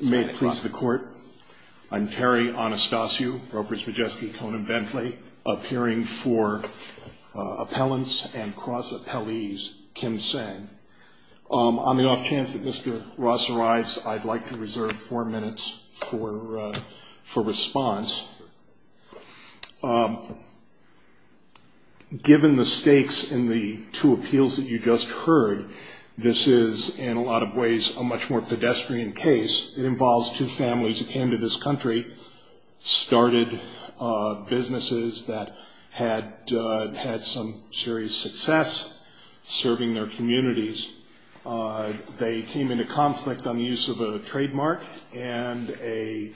May it please the court, I'm Terry Anastasio, Ropers Majeski, Cone and Bentley, appearing for appellants and cross-appellees, Kim Seng. On the off chance that Mr. Ross arrives, I'd like to reserve four minutes for response. Given the stakes in the two appeals that you just heard, this is in a lot of ways a much more pedestrian case. It involves two families who came to this country, started businesses that had had some serious success serving their communities. They came into conflict on the use of a trademark, and a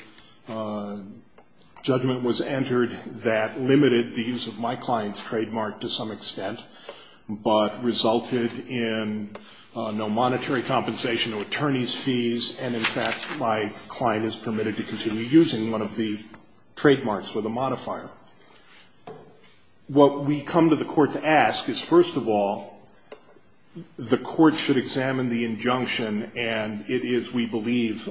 judgment was entered that limited the use of my client's trademark to some extent, but resulted in no monetary compensation, no attorney's fees, and in fact, my client is permitted to continue using one of the trademarks with a modifier. What we come to the court to ask is, first of all, the court should examine the injunction, and it is, we believe,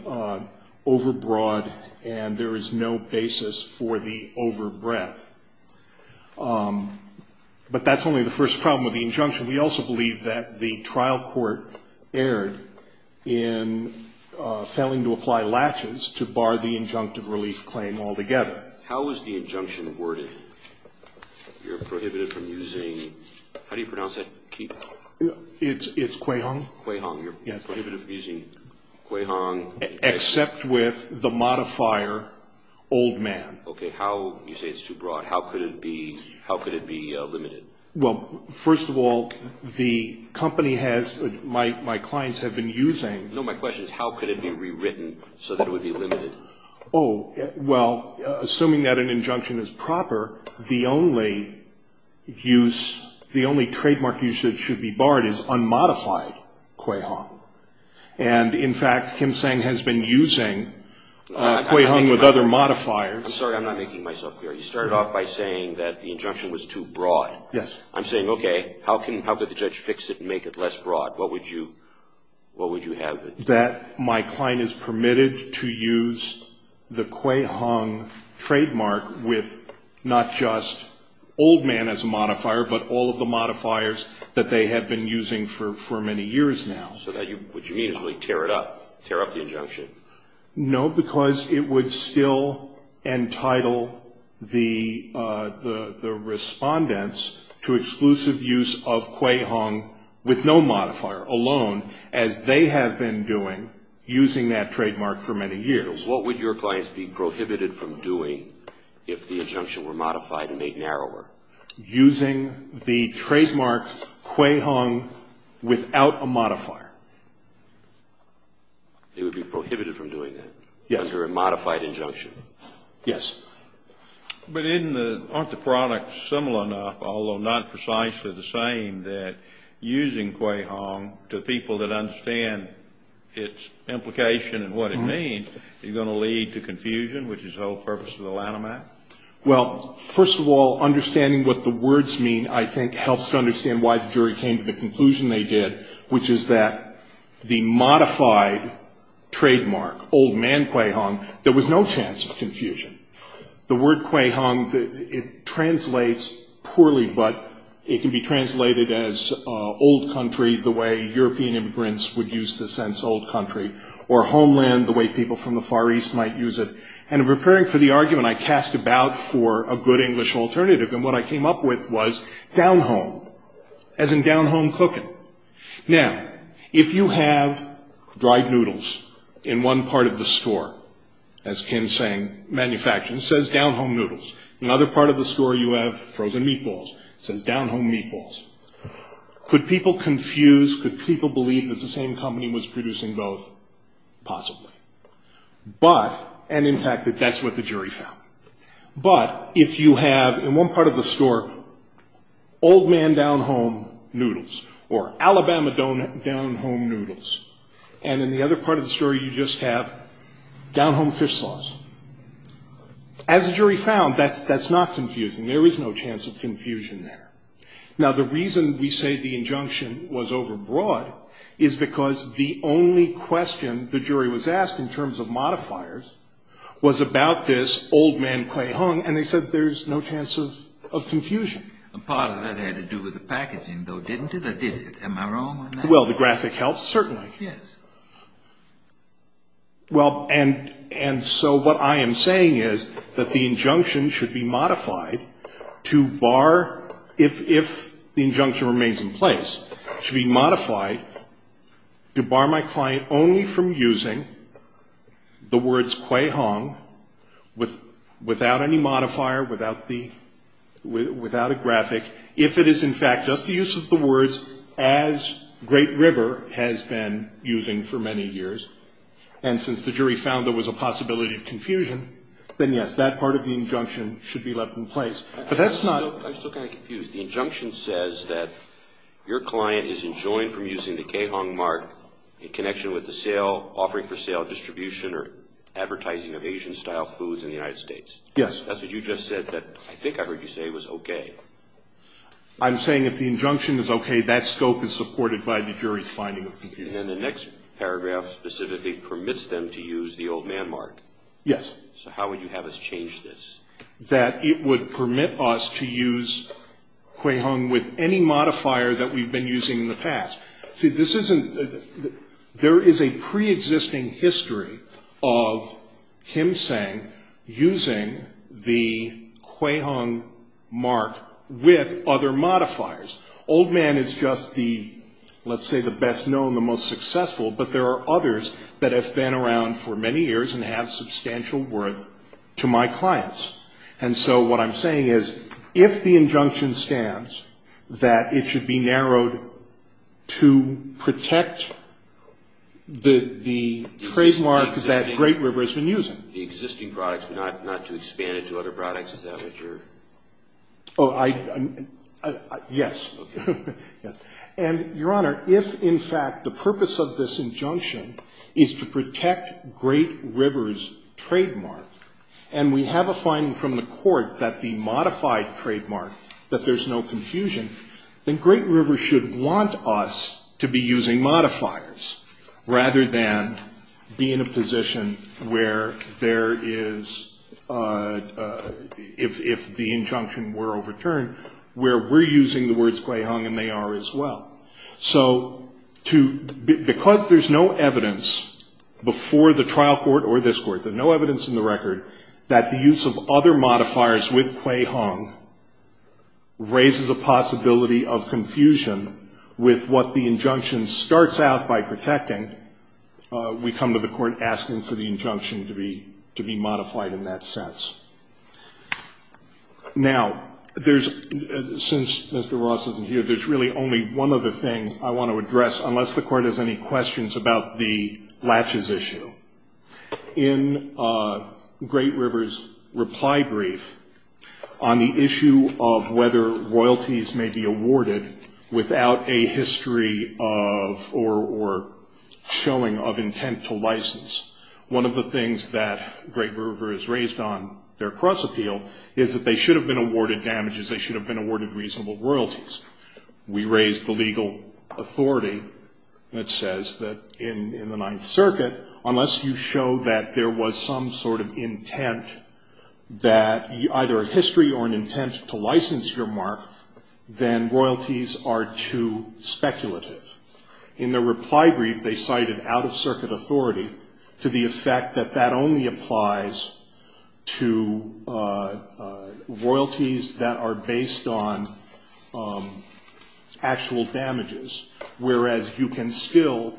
overbroad, and there is no basis for the overbreadth. But that's only the first problem with the injunction. We also believe that the trial court erred in failing to apply latches to bar the injunctive relief claim altogether. How is the injunction worded? You're prohibited from using, how do you pronounce that key? It's Cui Hong. Cui Hong, you're prohibited from using Cui Hong. Except with the modifier old man. Okay, how, you say it's too broad, how could it be, how could it be limited? Well, first of all, the company has, my clients have been using. No, my question is how could it be rewritten so that it would be limited? Oh, well, assuming that an injunction is proper, the only use, the only trademark usage should be barred is unmodified Cui Hong. And, in fact, Kim Sang has been using Cui Hong with other modifiers. I'm sorry, I'm not making myself clear. You started off by saying that the injunction was too broad. Yes. I'm saying, okay, how can, how could the judge fix it and make it less broad? What would you, what would you have? That my client is permitted to use the Cui Hong trademark with not just old man as a modifier, but all of the modifiers that they have been using for many years now. So what you mean is really tear it up, tear up the injunction? No, because it would still entitle the respondents to exclusive use of Cui Hong with no modifier alone, as they have been doing, using that trademark for many years. So what would your clients be prohibited from doing if the injunction were modified and made narrower? Using the trademark Cui Hong without a modifier. They would be prohibited from doing that? Yes. Under a modified injunction? Yes. But isn't the, aren't the products similar enough, although not precisely the same, that using Cui Hong to people that understand its implication and what it means, you're going to lead to confusion, which is the whole purpose of the Lanham Act? Well, first of all, understanding what the words mean, I think, helps to understand why the jury came to the conclusion they did, which is that the modified trademark, old man Cui Hong, there was no chance of confusion. The word Cui Hong, it translates poorly, but it can be translated as old country, the way European immigrants would use the sense old country, or homeland, the way people from the Far East might use it. And in preparing for the argument, I cast about for a good English alternative, and what I came up with was down-home, as in down-home cooking. Now, if you have dried noodles in one part of the store, as Kim's saying, manufacturing, it says down-home noodles. In another part of the store, you have frozen meatballs. It says down-home meatballs. Could people confuse, could people believe that the same company was producing both? Possibly. But, and in fact, that's what the jury found. But if you have, in one part of the store, old man down-home noodles, or Alabama down-home noodles, and in the other part of the store you just have down-home fish sauce, as the jury found, that's not confusing. There is no chance of confusion there. Now, the reason we say the injunction was overbroad is because the only question the jury was asked in terms of modifiers was about this old man Quahog, and they said there's no chance of confusion. A part of that had to do with the packaging, though, didn't it, or did it? Am I wrong on that? Well, the graphic helps, certainly. Yes. Well, and so what I am saying is that the injunction should be modified to bar, if the injunction remains in place, should be modified to bar my client only from using the words Quahog without any modifier, without the, without a graphic, if it is, in fact, just the use of the words, as Great River has been using for many years. And since the jury found there was a possibility of confusion, then, yes, that part of the injunction should be left in place. But that's not. I'm still kind of confused. The injunction says that your client is enjoined from using the Quahog mark in connection with the sale, offering for sale, distribution, or advertising of Asian-style foods in the United States. Yes. That's what you just said that I think I heard you say was okay. I'm saying if the injunction is okay, that scope is supported by the jury's finding of confusion. And then the next paragraph specifically permits them to use the old man mark. Yes. So how would you have us change this? That it would permit us to use Quahog with any modifier that we've been using in the past? See, this isn't, there is a preexisting history of Kim Sang using the Quahog mark with other modifiers. Old man is just the, let's say, the best known, the most successful, but there are others that have been around for many years and have substantial worth to my clients. And so what I'm saying is if the injunction stands that it should be narrowed to protect the trademark that Great River has been using. The existing products, but not to expand it to other products, is that what you're? Oh, I, yes. Okay. Yes. And, Your Honor, if in fact the purpose of this injunction is to protect Great River's trademark, and we have a finding from the court that the modified trademark, that there's no confusion, then Great River should want us to be using modifiers, rather than be in a position where there is, if the injunction were overturned, where we're using the words Quahog and they are as well. So to, because there's no evidence before the trial court or this court, there's no evidence in the record that the use of other modifiers with Quahog raises a possibility of confusion with what the injunction starts out by protecting. We come to the court asking for the injunction to be modified in that sense. Now, there's, since Mr. Ross isn't here, there's really only one other thing I want to address, unless the court has any questions about the latches issue. In Great River's reply brief on the issue of whether royalties may be awarded without a history of, or showing of intent to license, one of the things that Great River has raised on their cross-appeal is that they should have been awarded damages, they should have been awarded reasonable royalties. We raised the legal authority that says that in the Ninth Circuit, unless you show that there was some sort of intent that, either a history or an intent to license your mark, then royalties are too speculative. In their reply brief, they cited out-of-circuit authority to the effect that that only applies to royalties that are based on actual damages, whereas you can still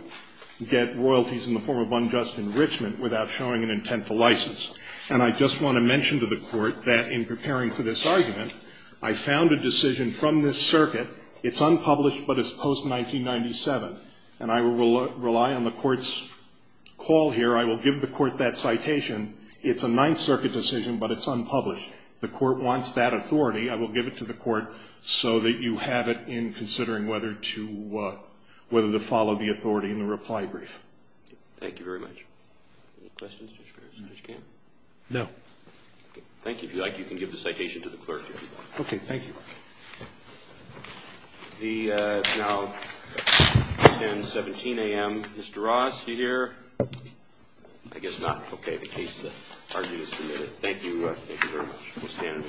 get royalties in the form of unjust enrichment without showing an intent to license. And I just want to mention to the court that in preparing for this argument, I found a decision from this circuit. It's unpublished, but it's post-1997. And I will rely on the court's call here. I will give the court that citation. It's a Ninth Circuit decision, but it's unpublished. The court wants that authority. I will give it to the court so that you have it in considering whether to follow the authority in the reply brief. Thank you very much. Any questions, Judge Farris, Judge Kamen? No. Thank you. If you like, you can give the citation to the clerk, if you'd like. Okay. Thank you. It's now 10.17 a.m. Mr. Ross, are you here? I guess not. Okay. The case is argued and submitted. Thank you. Thank you very much. We'll stand in recess. Thank you.